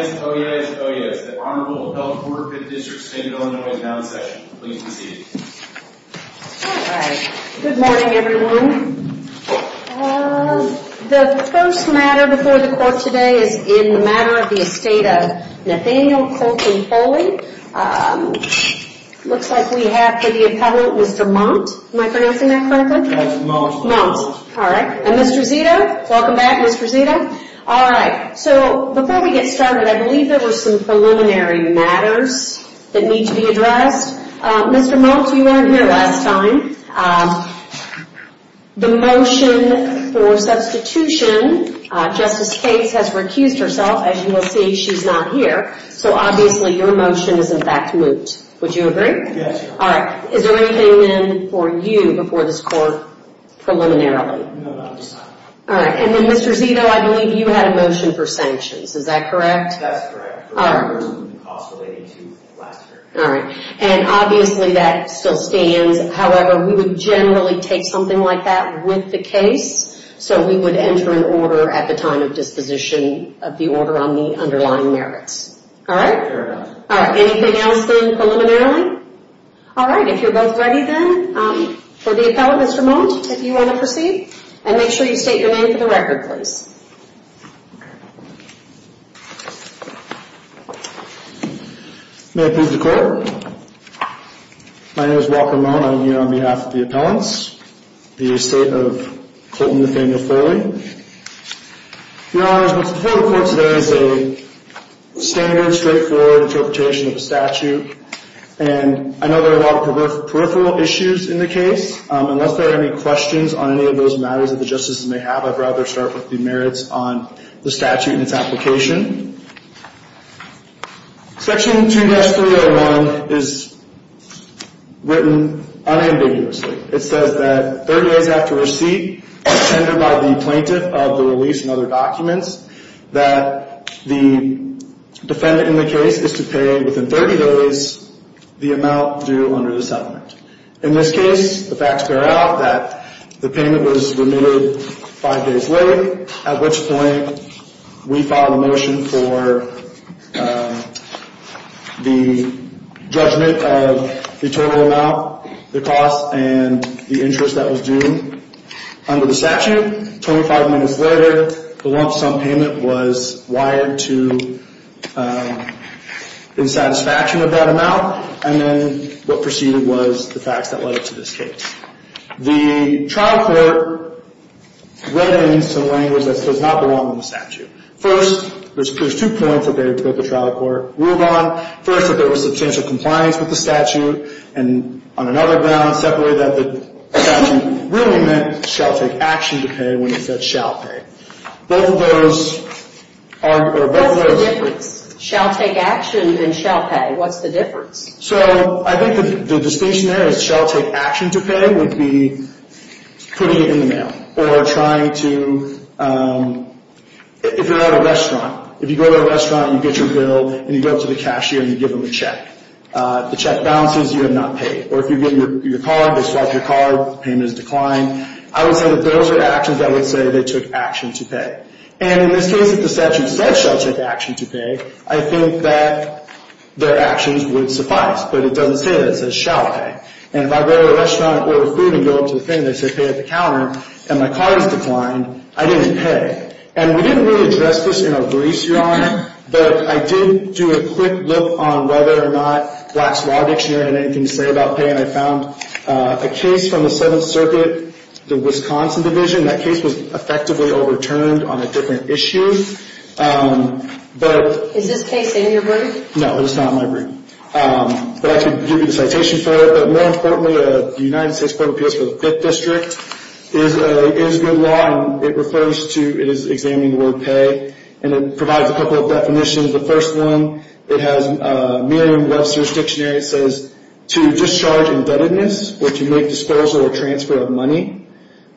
Oh yes, oh yes, oh yes. The Honorable Appellate Court of the District State of Illinois is now in session. Please proceed. Alright. Good morning everyone. The first matter before the court today is in the Matter of the Estate of Nathaniel Colton Foley. Looks like we have for the appellate Mr. Mount. Am I pronouncing that correctly? That's Mount. Mount. Alright. And Mr. Zito. Welcome back, Mr. Zito. Alright. So before we get started, I believe there were some preliminary matters that need to be addressed. Mr. Mount, you weren't here last time. The motion for substitution, Justice Cates has recused herself. As you will see, she's not here. So obviously your motion is in fact moot. Would you agree? Yes. Alright. Is there anything then for you before this court preliminarily? No, not this time. Alright. And then Mr. Zito, I believe you had a motion for sanctions. Is that correct? That's correct. Alright. Also relating to last year. Alright. And obviously that still stands. However, we would generally take something like that with the case. So we would enter an order at the time of disposition of the order on the underlying merits. Alright? Fair enough. Alright. Anything else then preliminarily? Alright. If you're both ready then for the appellate Mr. Mount, if you want to proceed. And make sure you state your name for the record, please. May I please declare? My name is Walker Mount. I'm here on behalf of the appellants. The estate of Colton Nathaniel Foley. Your Honor, what's before the court today is a standard, straightforward interpretation of a statute. And I know there are a lot of peripheral issues in the case. Unless there are any questions on any of those matters that the justices may have, I'd rather start with the merits on the statute and its application. Section 2-301 is written unambiguously. It says that 30 days after receipt, as tendered by the plaintiff of the release and other documents, that the defendant in the case is to pay within 30 days the amount due under the settlement. In this case, the facts bear out that the payment was remitted five days late, at which point we filed a motion for the judgment of the total amount, the cost, and the interest that was due. Under the statute, 25 minutes later, the lump sum payment was wired to the satisfaction of that amount. And then what proceeded was the facts that led up to this case. The trial court went into language that does not belong on the statute. First, there's two points that the trial court ruled on. First, that there was substantial compliance with the statute. And on another balance, separately, that the statute really meant shall take action to pay when you said shall pay. Both of those are or both of those- What's the difference? Shall take action and shall pay. What's the difference? So I think the distinction there is shall take action to pay would be putting it in the mail or trying to, if you're at a restaurant. If you go to a restaurant, you get your bill, and you go up to the cashier, and you give them a check. The check bounces. You have not paid. Or if you give them your card, they swipe your card. Payment is declined. I would say that those are actions that would say they took action to pay. And in this case, if the statute said shall take action to pay, I think that their actions would suffice. But it doesn't say that. It says shall pay. And if I go to a restaurant, order food, and go up to the cashier, and they say pay at the counter, and my card is declined, I didn't pay. And we didn't really address this in our briefs, Your Honor. But I did do a quick look on whether or not Black's Law Dictionary had anything to say about pay, and I found a case from the Seventh Circuit, the Wisconsin Division. That case was effectively overturned on a different issue. Is this case in your brief? No, it is not in my brief. But I can give you the citation for it. But more importantly, the United States Court of Appeals for the Fifth District is good law, and it refers to, it is examining the word pay, and it provides a couple of definitions. The first one, it has Merriam-Webster's Dictionary. It says to discharge indebtedness or to make disposal or transfer of money.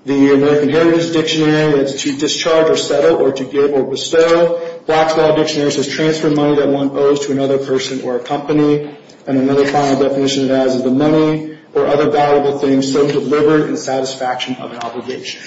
The American Heritage Dictionary, it's to discharge or settle or to give or bestow. Black's Law Dictionary says transfer money that one owes to another person or a company. And another final definition it has is the money or other valuable things so delivered in satisfaction of an obligation.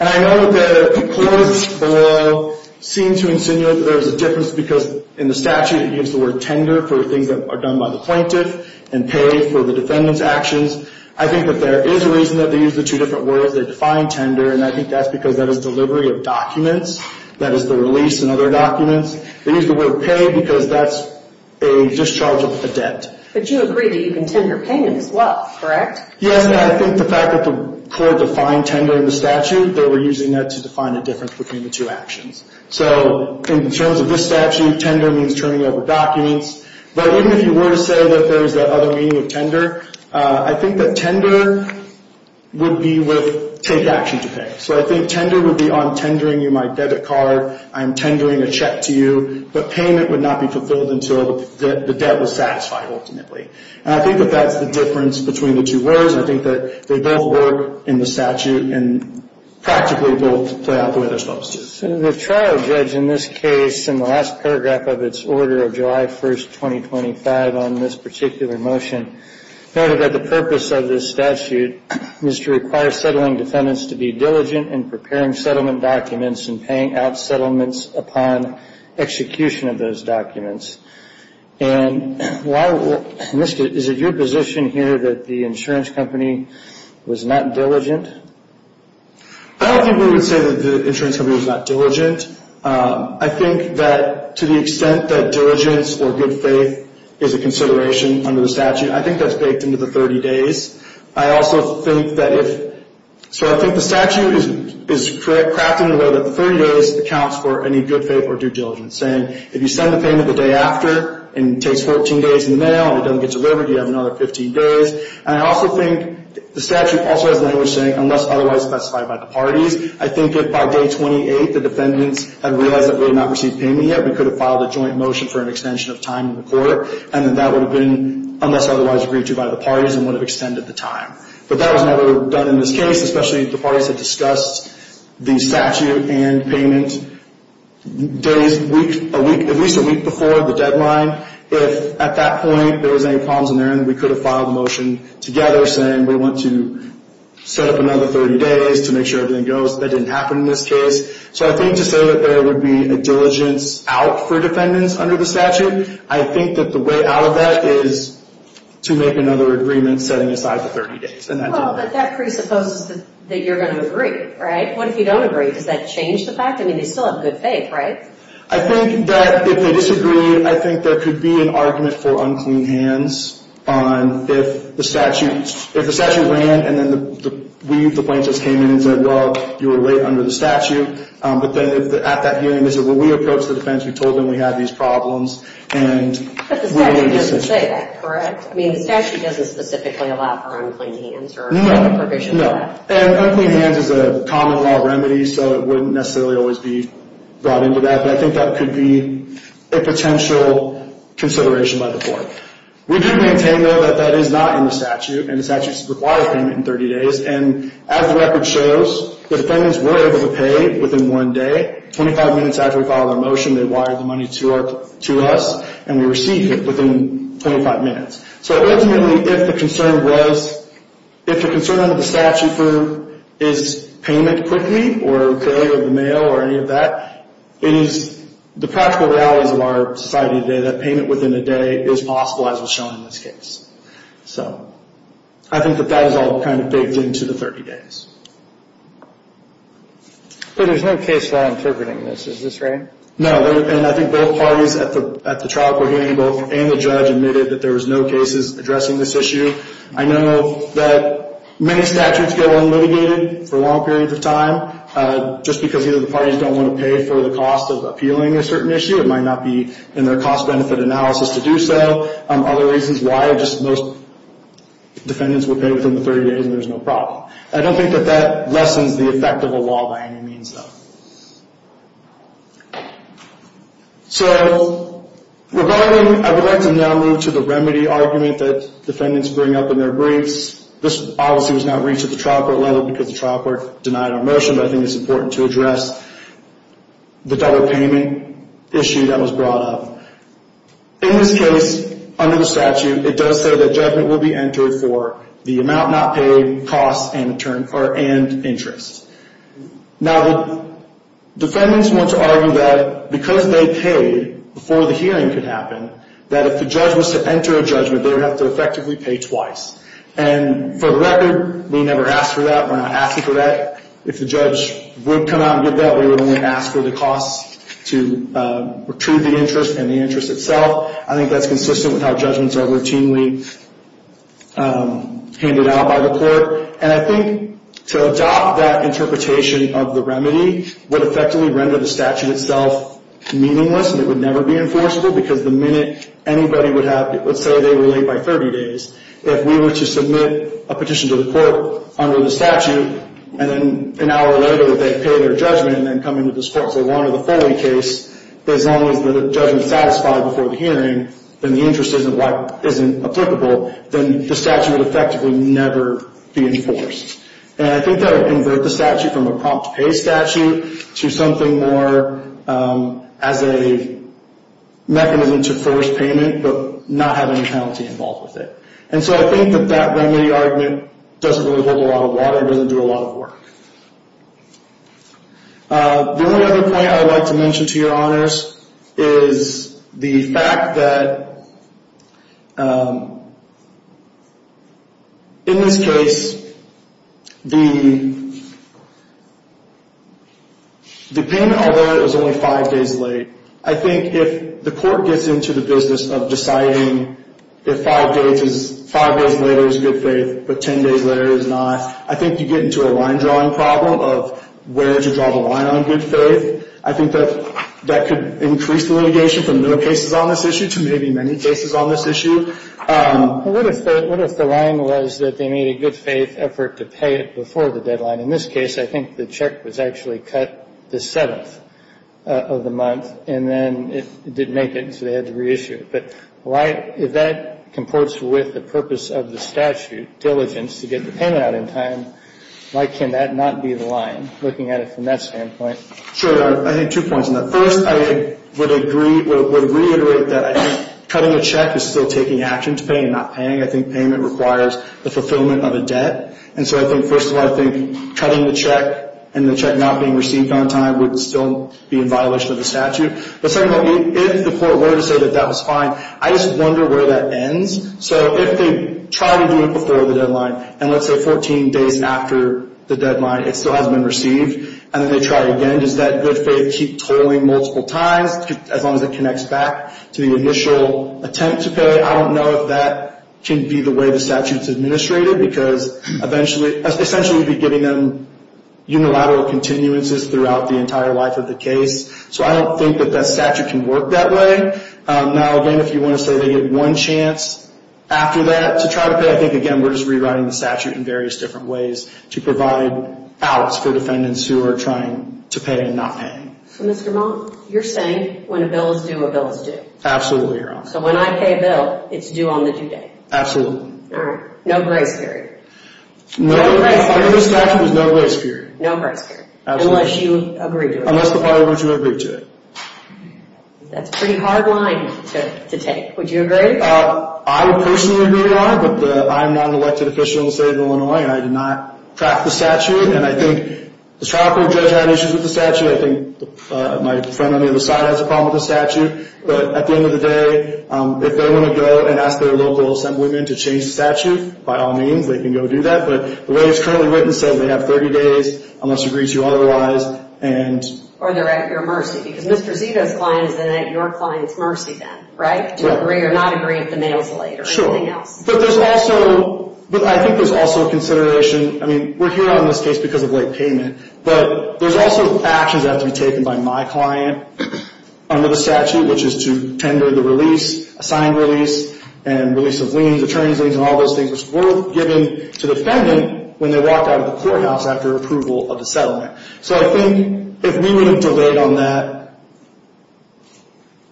And I know that the courts below seem to insinuate that there is a difference because in the statute it gives the word tender for things that are done by the plaintiff and pay for the defendant's actions. I think that there is a reason that they use the two different words. They define tender, and I think that's because that is delivery of documents. That is the release in other documents. They use the word pay because that's a discharge of a debt. But you agree that you can tender pay as well, correct? Yes, and I think the fact that the court defined tender in the statute, they were using that to define a difference between the two actions. So in terms of this statute, tender means turning over documents. But even if you were to say that there is that other meaning of tender, I think that tender would be with take action to pay. So I think tender would be on tendering you my debit card, I'm tendering a check to you, but payment would not be fulfilled until the debt was satisfied ultimately. And I think that that's the difference between the two words. I think that they both work in the statute and practically both play out the way they're supposed to. The trial judge in this case in the last paragraph of its order of July 1, 2025, on this particular motion noted that the purpose of this statute is to require settling defendants to be diligent in preparing settlement documents and paying out settlements upon execution of those documents. And is it your position here that the insurance company was not diligent? I don't think we would say that the insurance company was not diligent. I think that to the extent that diligence or good faith is a consideration under the statute, I think that's baked into the 30 days. I also think that if—so I think the statute is crafted in a way that the 30 days accounts for any good faith or due diligence, saying if you send the payment the day after and it takes 14 days in the mail and it doesn't get delivered, you have another 15 days. And I also think the statute also has language saying unless otherwise specified by the parties. I think if by day 28 the defendants had realized that we had not received payment yet, we could have filed a joint motion for an extension of time in the court and that that would have been unless otherwise agreed to by the parties and would have extended the time. But that was never done in this case, especially if the parties had discussed the statute and payment days, at least a week before the deadline. If at that point there was any problems in there, we could have filed a motion together saying we want to set up another 30 days to make sure everything goes. That didn't happen in this case. So I think to say that there would be a diligence out for defendants under the statute, I think that the way out of that is to make another agreement setting aside the 30 days. Well, but that presupposes that you're going to agree, right? What if you don't agree? Does that change the fact? I mean, they still have good faith, right? I think that if they disagree, I think there could be an argument for unclean hands on if the statute ran and then we, the plaintiffs, came in and said, well, you were late under the statute. But then at that hearing they said, well, we approached the defense. We told them we had these problems. But the statute doesn't say that, correct? I mean, the statute doesn't specifically allow for unclean hands or any provision for that. No, and unclean hands is a common law remedy, so it wouldn't necessarily always be brought into that. But I think that could be a potential consideration by the court. We do maintain, though, that that is not in the statute, and the statute requires payment in 30 days. And as the record shows, the defendants were able to pay within one day. Twenty-five minutes after we filed our motion, they wired the money to us, and we received it within 25 minutes. So ultimately, if the concern was, if the concern under the statute is payment quickly or the mail or any of that, it is the practical realities of our society today that payment within a day is possible, as was shown in this case. So I think that that is all kind of baked into the 30 days. But there's no case law interpreting this. Is this right? No, and I think both parties at the trial court hearing, both in the judge admitted that there was no cases addressing this issue. I know that many statutes get unlitigated for long periods of time, just because either the parties don't want to pay for the cost of appealing a certain issue. It might not be in their cost-benefit analysis to do so. Other reasons why, just most defendants would pay within the 30 days, and there's no problem. I don't think that that lessens the effect of a law by any means, though. So I would like to now move to the remedy argument that defendants bring up in their briefs. This policy was not reached at the trial court level because the trial court denied our motion, but I think it's important to address the double payment issue that was brought up. In this case, under the statute, it does say that judgment will be entered for the amount not paid, costs and interest. Now, defendants want to argue that because they paid before the hearing could happen, that if the judge was to enter a judgment, they would have to effectively pay twice. And for the record, we never asked for that. We're not asking for that. If the judge would come out and give that, we would only ask for the cost to retrieve the interest and the interest itself. I think that's consistent with how judgments are routinely handed out by the court. And I think to adopt that interpretation of the remedy would effectively render the statute itself meaningless, and it would never be enforceable because the minute anybody would have, let's say they were late by 30 days, if we were to submit a petition to the court under the statute, and then an hour later they'd pay their judgment and then come into this court. So under the Foley case, as long as the judgment is satisfied before the hearing, then the interest isn't applicable, then the statute would effectively never be enforced. And I think that would convert the statute from a prompt-to-pay statute to something more as a mechanism to force payment but not have any penalty involved with it. And so I think that that remedy argument doesn't really hold a lot of water. It doesn't do a lot of work. The only other point I would like to mention to your honors is the fact that in this case, the pen, although it was only five days late, I think if the court gets into the business of deciding if five days later is good faith but 10 days later is not, I think you get into a line-drawing problem of where to draw the line on good faith. I think that could increase the litigation from no cases on this issue to maybe many cases on this issue. What if the line was that they made a good-faith effort to pay it before the deadline? In this case, I think the check was actually cut the 7th of the month, and then it didn't make it, so they had to reissue it. But if that comports with the purpose of the statute, diligence, to get the payment out in time, why can that not be the line, looking at it from that standpoint? Sure, Your Honor. I think two points on that. First, I would agree, would reiterate that I think cutting a check is still taking action to pay and not paying. I think payment requires the fulfillment of a debt. And so I think, first of all, I think cutting the check and the check not being received on time would still be in violation of the statute. But, second of all, if the court were to say that that was fine, I just wonder where that ends. So if they try to do it before the deadline and, let's say, 14 days after the deadline, it still hasn't been received, and then they try again, does that good faith keep tolling multiple times as long as it connects back to the initial attempt to pay? I don't know if that can be the way the statute's administrated, because essentially we'd be giving them unilateral continuances throughout the entire life of the case. So I don't think that that statute can work that way. Now, again, if you want to say they get one chance after that to try to pay, I think, again, we're just rewriting the statute in various different ways to provide outs for defendants who are trying to pay and not paying. So, Mr. Monk, you're saying when a bill is due, a bill is due? Absolutely, Your Honor. So when I pay a bill, it's due on the due date? Absolutely. All right. No grace period? No. No grace period? Under the statute, there's no grace period. No grace period? Absolutely. Unless you agree to it? Unless the party wants you to agree to it. That's a pretty hard line to take. Would you agree? I personally agree, Your Honor, but I'm not an elected official in the state of Illinois, and I did not craft the statute. And I think the trial court judge had issues with the statute. I think my friend on the other side has a problem with the statute. But at the end of the day, if they want to go and ask their local assemblyman to change the statute, by all means, they can go do that. But the way it's currently written says they have 30 days unless agreed to otherwise. Or they're at your mercy, because Mr. Zito's client is then at your client's mercy then, right? To agree or not agree at the mail's late or anything else. But there's also – but I think there's also a consideration – I mean, we're here on this case because of late payment. But there's also actions that have to be taken by my client under the statute, which is to tender the release, assigned release, and release of liens, attorney's liens, and all those things, which were given to the defendant when they walked out of the courthouse after approval of the settlement. So I think if we would have delayed on that,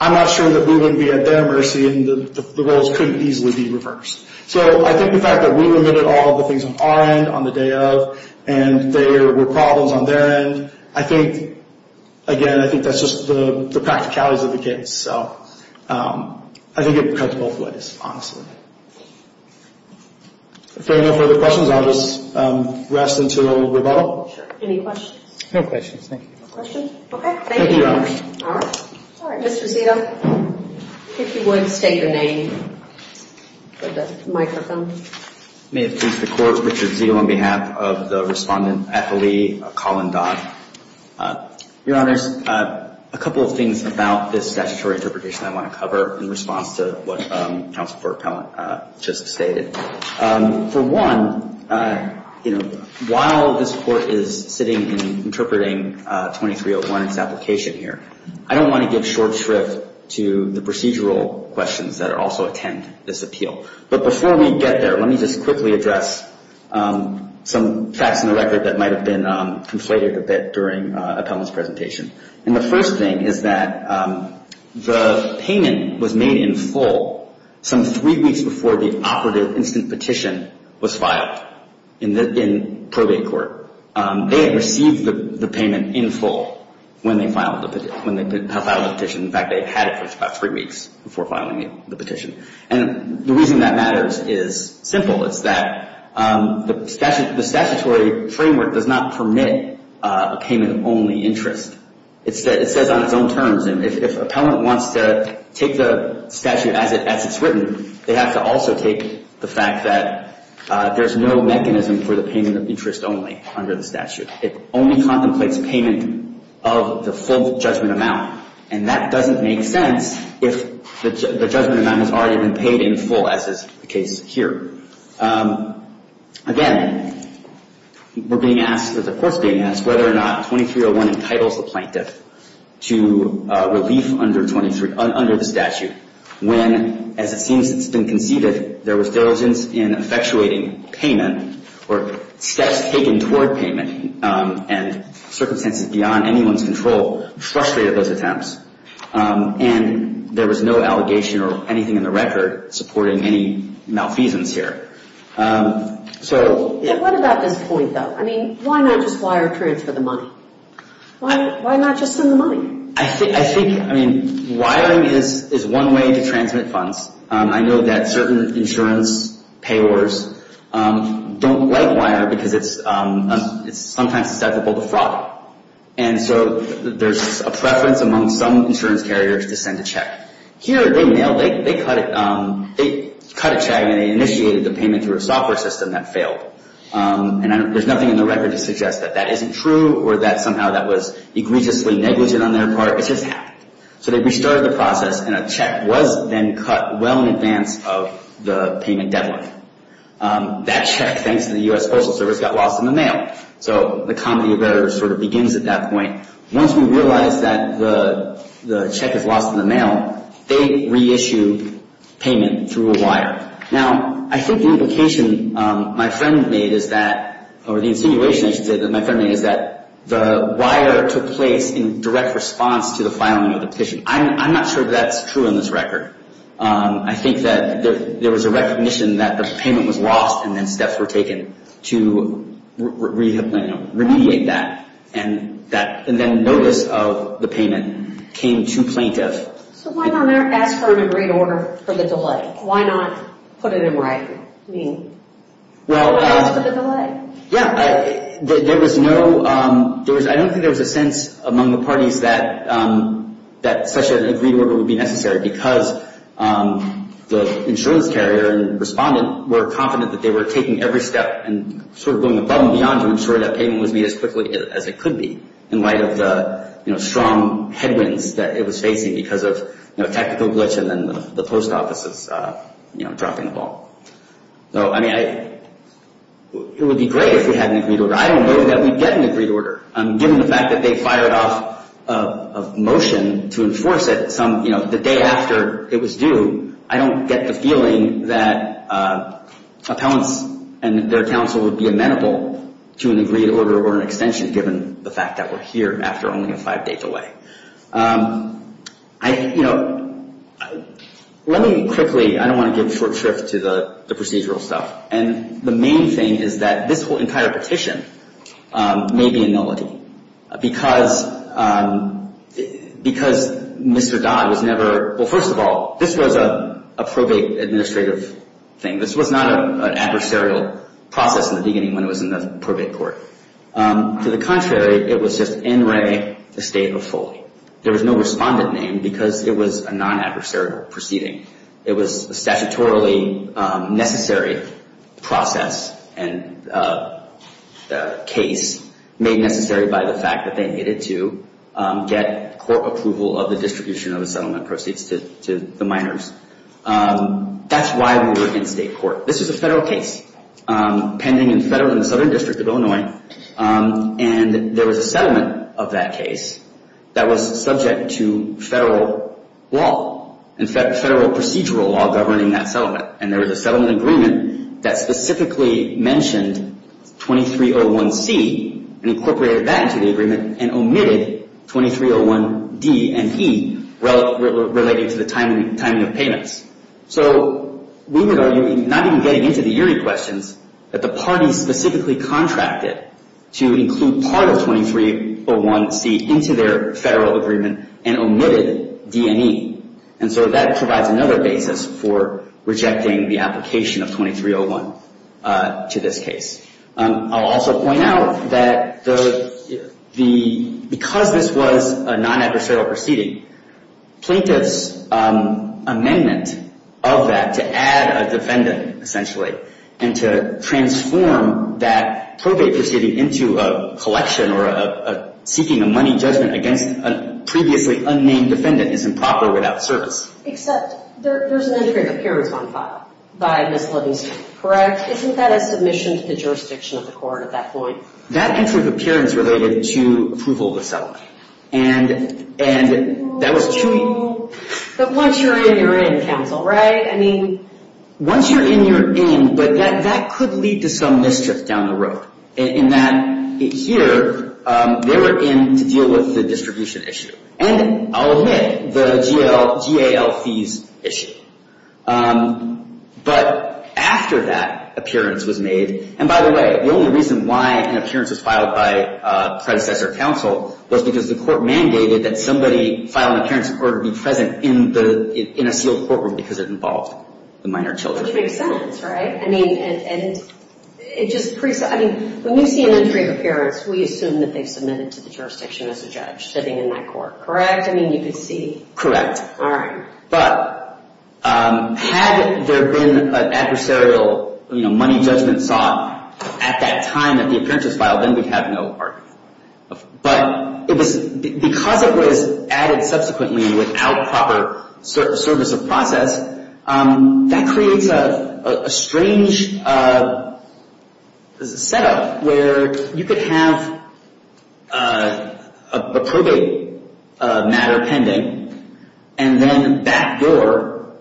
I'm not sure that we wouldn't be at their mercy, and the roles couldn't easily be reversed. So I think the fact that we limited all of the things on our end on the day of, and there were problems on their end, I think – again, I think that's just the practicalities of the case. So I think it cuts both ways, honestly. If there are no further questions, I'll just rest until rebuttal. Sure. Any questions? No questions, thank you. No questions? Okay. Thank you, Your Honor. All right. Mr. Zito, if you would, state your name for the microphone. May it please the Court, Richard Zito on behalf of the Respondent at the Lee, Colin Dodd. Your Honors, a couple of things about this statutory interpretation I want to cover in response to what Counsel for Appellant just stated. For one, while this Court is sitting and interpreting 2301's application here, I don't want to give short shrift to the procedural questions that also attend this appeal. But before we get there, let me just quickly address some facts in the record that might have been conflated a bit during Appellant's presentation. And the first thing is that the payment was made in full some three weeks before the operative instant petition was filed in probate court. They had received the payment in full when they filed the petition. In fact, they had it for about three weeks before filing the petition. And the reason that matters is simple. It's that the statutory framework does not permit a payment-only interest. It says on its own terms, and if Appellant wants to take the statute as it's written, they have to also take the fact that there's no mechanism for the payment of interest only under the statute. It only contemplates payment of the full judgment amount. And that doesn't make sense if the judgment amount has already been paid in full, as is the case here. Again, we're being asked, the Court's being asked, whether or not 2301 entitles the plaintiff to relief under the statute when, as it seems it's been conceded, there was diligence in effectuating payment or steps taken toward payment and circumstances beyond anyone's control frustrated those attempts. And there was no allegation or anything in the record supporting any malfeasance here. What about this point, though? I mean, why not just wire transfer the money? Why not just send the money? I think, I mean, wiring is one way to transmit funds. I know that certain insurance payors don't like wire because it's sometimes susceptible to fraud. And so there's a preference among some insurance carriers to send a check. Here, they nailed it. They cut a check, and they initiated the payment through a software system that failed. And there's nothing in the record to suggest that that isn't true or that somehow that was egregiously negligent on their part. It just happened. So they restarted the process, and a check was then cut well in advance of the payment deadline. That check, thanks to the U.S. Postal Service, got lost in the mail. So the comedy of errors sort of begins at that point. Once we realize that the check is lost in the mail, they reissue payment through a wire. Now, I think the implication my friend made is that, or the insinuation, I should say, that my friend made is that the wire took place in direct response to the filing of the petition. I'm not sure that that's true in this record. I think that there was a recognition that the payment was lost, and then steps were taken to remediate that. And then notice of the payment came to plaintiff. So why not ask for an agreed order for the delay? Why not put it in writing? I mean, why ask for the delay? Yeah, I don't think there was a sense among the parties that such an agreed order would be necessary because the insurance carrier and respondent were confident that they were taking every step and sort of going above and beyond to ensure that payment was made as quickly as it could be in light of the strong headwinds that it was facing because of a technical glitch and then the post office's dropping the ball. So, I mean, it would be great if we had an agreed order. I don't know that we'd get an agreed order. Given the fact that they fired off a motion to enforce it the day after it was due, I don't get the feeling that appellants and their counsel would be amenable to an agreed order or an extension given the fact that we're here after only five days away. I, you know, let me quickly, I don't want to give short shrift to the procedural stuff. And the main thing is that this whole entire petition may be a nullity because Mr. Dodd was never, well, first of all, this was a probate administrative thing. This was not an adversarial process in the beginning when it was in the probate court. To the contrary, it was just in re the state of Foley. There was no respondent name because it was a non-adversarial proceeding. It was a statutorily necessary process and case made necessary by the fact that they needed to get court approval of the distribution of the settlement proceeds to the miners. That's why we were in state court. This is a federal case pending in the southern district of Illinois. And there was a settlement of that case that was subject to federal law, in fact, federal procedural law governing that settlement. And there was a settlement agreement that specifically mentioned 2301C and incorporated that into the agreement and omitted 2301D and E relating to the timing of payments. So we would argue, not even getting into the eerie questions, that the party specifically contracted to include part of 2301C into their federal agreement and omitted D and E. And so that provides another basis for rejecting the application of 2301 to this case. I'll also point out that because this was a non-adversarial proceeding, the plaintiff's amendment of that to add a defendant essentially and to transform that probate proceeding into a collection or seeking a money judgment against a previously unnamed defendant is improper without service. Except there's an entry of appearance on file by Ms. Livingston, correct? Isn't that a submission to the jurisdiction of the court at that point? That entry of appearance related to approval of the settlement. And that was too... But once you're in, you're in, counsel, right? Once you're in, you're in, but that could lead to some mischief down the road. In that here, they were in to deal with the distribution issue. And I'll admit, the GAL fees issue. But after that appearance was made, and by the way, the only reason why an appearance was filed by predecessor counsel was because the court mandated that somebody file an appearance in order to be present in a sealed courtroom because it involved the minor children. Which makes sense, right? I mean, and it just pretty... I mean, when you see an entry of appearance, we assume that they've submitted to the jurisdiction as a judge sitting in that court, correct? I mean, you could see... Correct. All right. But had there been an adversarial money judgment sought at that time that the appearance was filed, then we'd have no argument. But because it was added subsequently without proper service of process, that creates a strange setup where you could have a probate matter pending and then back door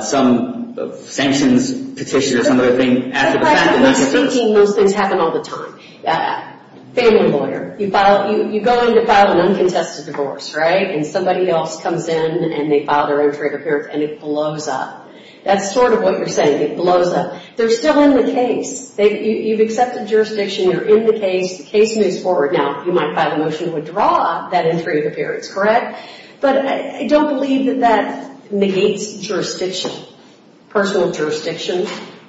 some sanctions petition or some other thing after the fact. Speaking, those things happen all the time. Family lawyer. You go in to file an uncontested divorce, right? And somebody else comes in and they file their entry of appearance and it blows up. That's sort of what you're saying. It blows up. They're still in the case. You've accepted jurisdiction. You're in the case. The case moves forward. Now, you might file a motion to withdraw that entry of appearance, correct? But I don't believe that that negates jurisdiction, personal jurisdiction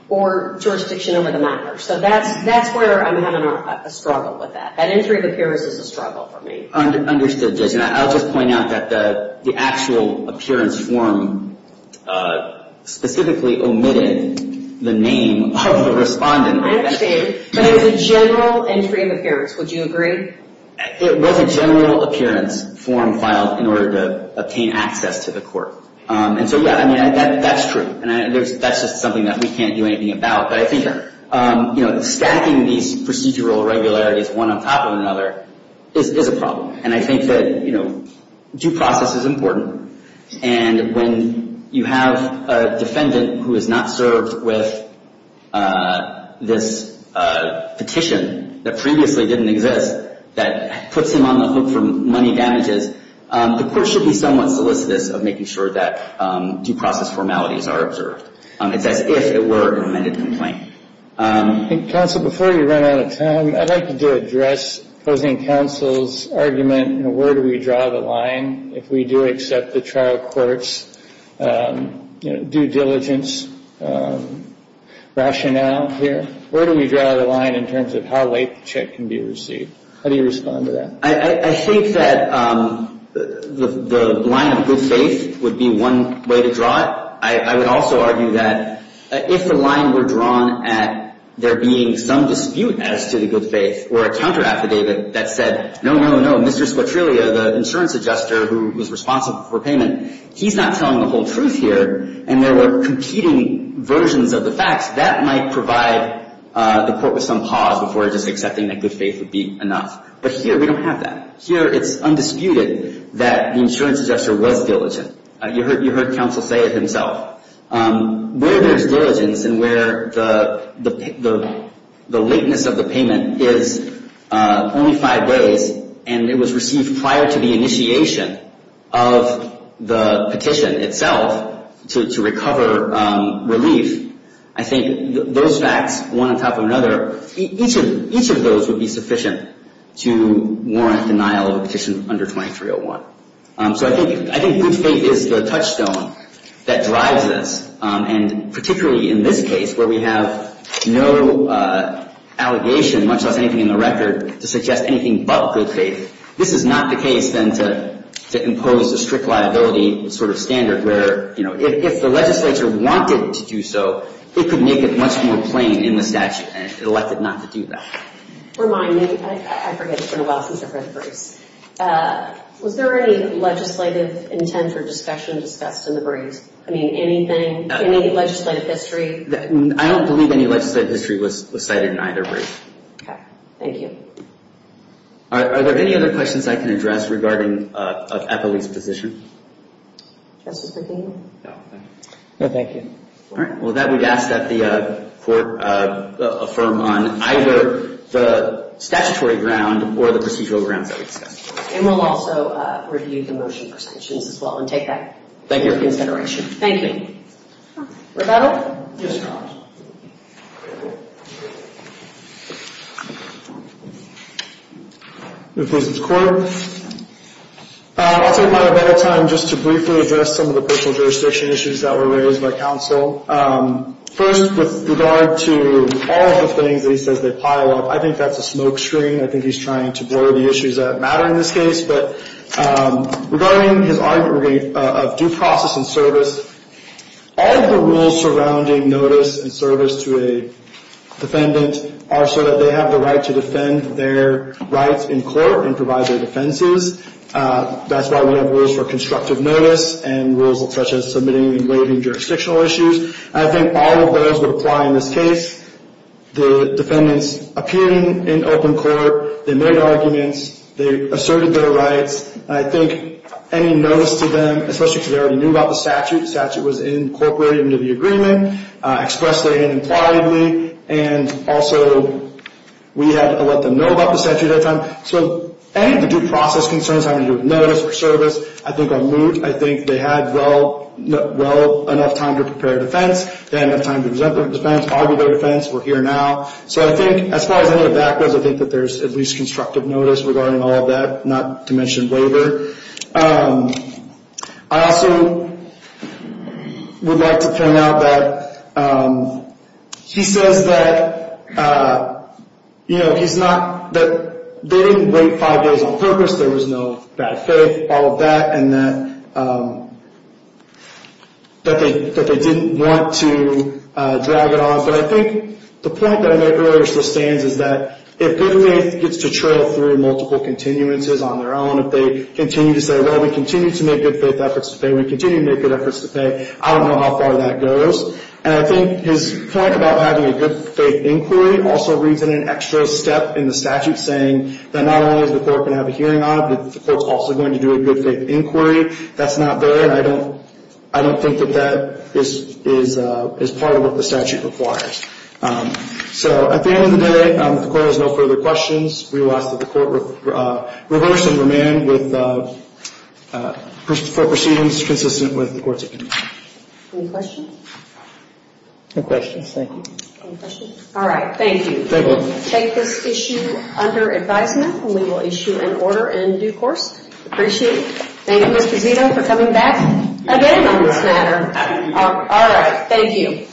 or jurisdiction over the matter. So that's where I'm having a struggle with that. That entry of appearance is a struggle for me. Understood, Judge. And I'll just point out that the actual appearance form specifically omitted the name of the respondent. I understand. But it was a general entry of appearance. Would you agree? It was a general appearance form filed in order to obtain access to the court. And so, yeah, I mean, that's true. And that's just something that we can't do anything about. But I think stacking these procedural regularities one on top of another is a problem. And I think that due process is important. And when you have a defendant who has not served with this petition that previously didn't exist that puts him on the hook for money damages, the court should be somewhat solicitous of making sure that due process formalities are observed. It's as if it were an amended complaint. Counsel, before you run out of time, I'd like you to address opposing counsel's argument, where do we draw the line if we do accept the trial court's due diligence rationale here? Where do we draw the line in terms of how late the check can be received? How do you respond to that? I think that the line of good faith would be one way to draw it. I would also argue that if the line were drawn at there being some dispute as to the good faith or a counter affidavit that said, no, no, no, Mr. Squatrillia, the insurance adjuster who was responsible for payment, he's not telling the whole truth here and there were competing versions of the facts, that might provide the court with some pause before just accepting that good faith would be enough. But here we don't have that. Here it's undisputed that the insurance adjuster was diligent. You heard counsel say it himself. Where there's diligence and where the lateness of the payment is only five days and it was received prior to the initiation of the petition itself to recover relief, I think those facts, one on top of another, each of those would be sufficient to warrant denial of a petition under 2301. So I think good faith is the touchstone that drives this. And particularly in this case where we have no allegation, much less anything in the record, to suggest anything but good faith, this is not the case then to impose a strict liability sort of standard where if the legislature wanted to do so, it could make it much more plain in the statute and elect it not to do that. Remind me, I forget, it's been a while since I've read the briefs. Was there any legislative intent or discussion discussed in the briefs? I mean, anything, any legislative history? I don't believe any legislative history was cited in either brief. Okay. Thank you. Are there any other questions I can address regarding a police position? Justice McNeil? No, thank you. All right. Well, with that, we'd ask that the court affirm on either the statutory ground or the procedural grounds that we discussed. And we'll also review the motion prescriptions as well and take that into consideration. Thank you. Thank you. Rebecca? Yes, Your Honor. If this is court. I'll take my time just to briefly address some of the personal jurisdiction issues that were raised by counsel. First, with regard to all of the things that he says they pile up, I think that's a smoke screen. I think he's trying to blur the issues that matter in this case. But regarding his argument of due process and service, all of the rules surrounding notice and service to a defendant are so that they have the right to defend their rights in court and provide their defenses. That's why we have rules for constructive notice and rules such as submitting and waiving jurisdictional issues. I think all of those would apply in this case. The defendants appeared in open court. They made arguments. They asserted their rights. I think any notice to them, especially because they already knew about the statute. The statute was incorporated into the agreement, expressed therein impliedly, and also we had to let them know about the statute at that time. So any of the due process concerns having to do with notice or service, I think are moot. I think they had well enough time to prepare a defense. They had enough time to present their defense, argue their defense. We're here now. So I think as far as any of that goes, I think that there's at least constructive notice regarding all of that, not to mention waiver. I also would like to point out that he says that, you know, he's not that they didn't wait five days on purpose. There was no bad faith, all of that, and that they didn't want to drag it on. But I think the point that I made earlier still stands is that if good faith gets to trail through multiple continuances on their own, if they continue to say, well, we continue to make good faith efforts to pay, we continue to make good efforts to pay, I don't know how far that goes. And I think his point about having a good faith inquiry also reads in an extra step in the statute, saying that not only is the court going to have a hearing on it, but the court's also going to do a good faith inquiry. If that's not there, I don't think that that is part of what the statute requires. So at the end of the day, if the court has no further questions, we will ask that the court reverse and remand for proceedings consistent with the court's intention. Any questions? No questions, thank you. All right, thank you. Thank you. We will take this issue under advisement, and we will issue an order in due course. Appreciate it. Thank you, Mr. Zito, for coming back again on this matter. All right, thank you.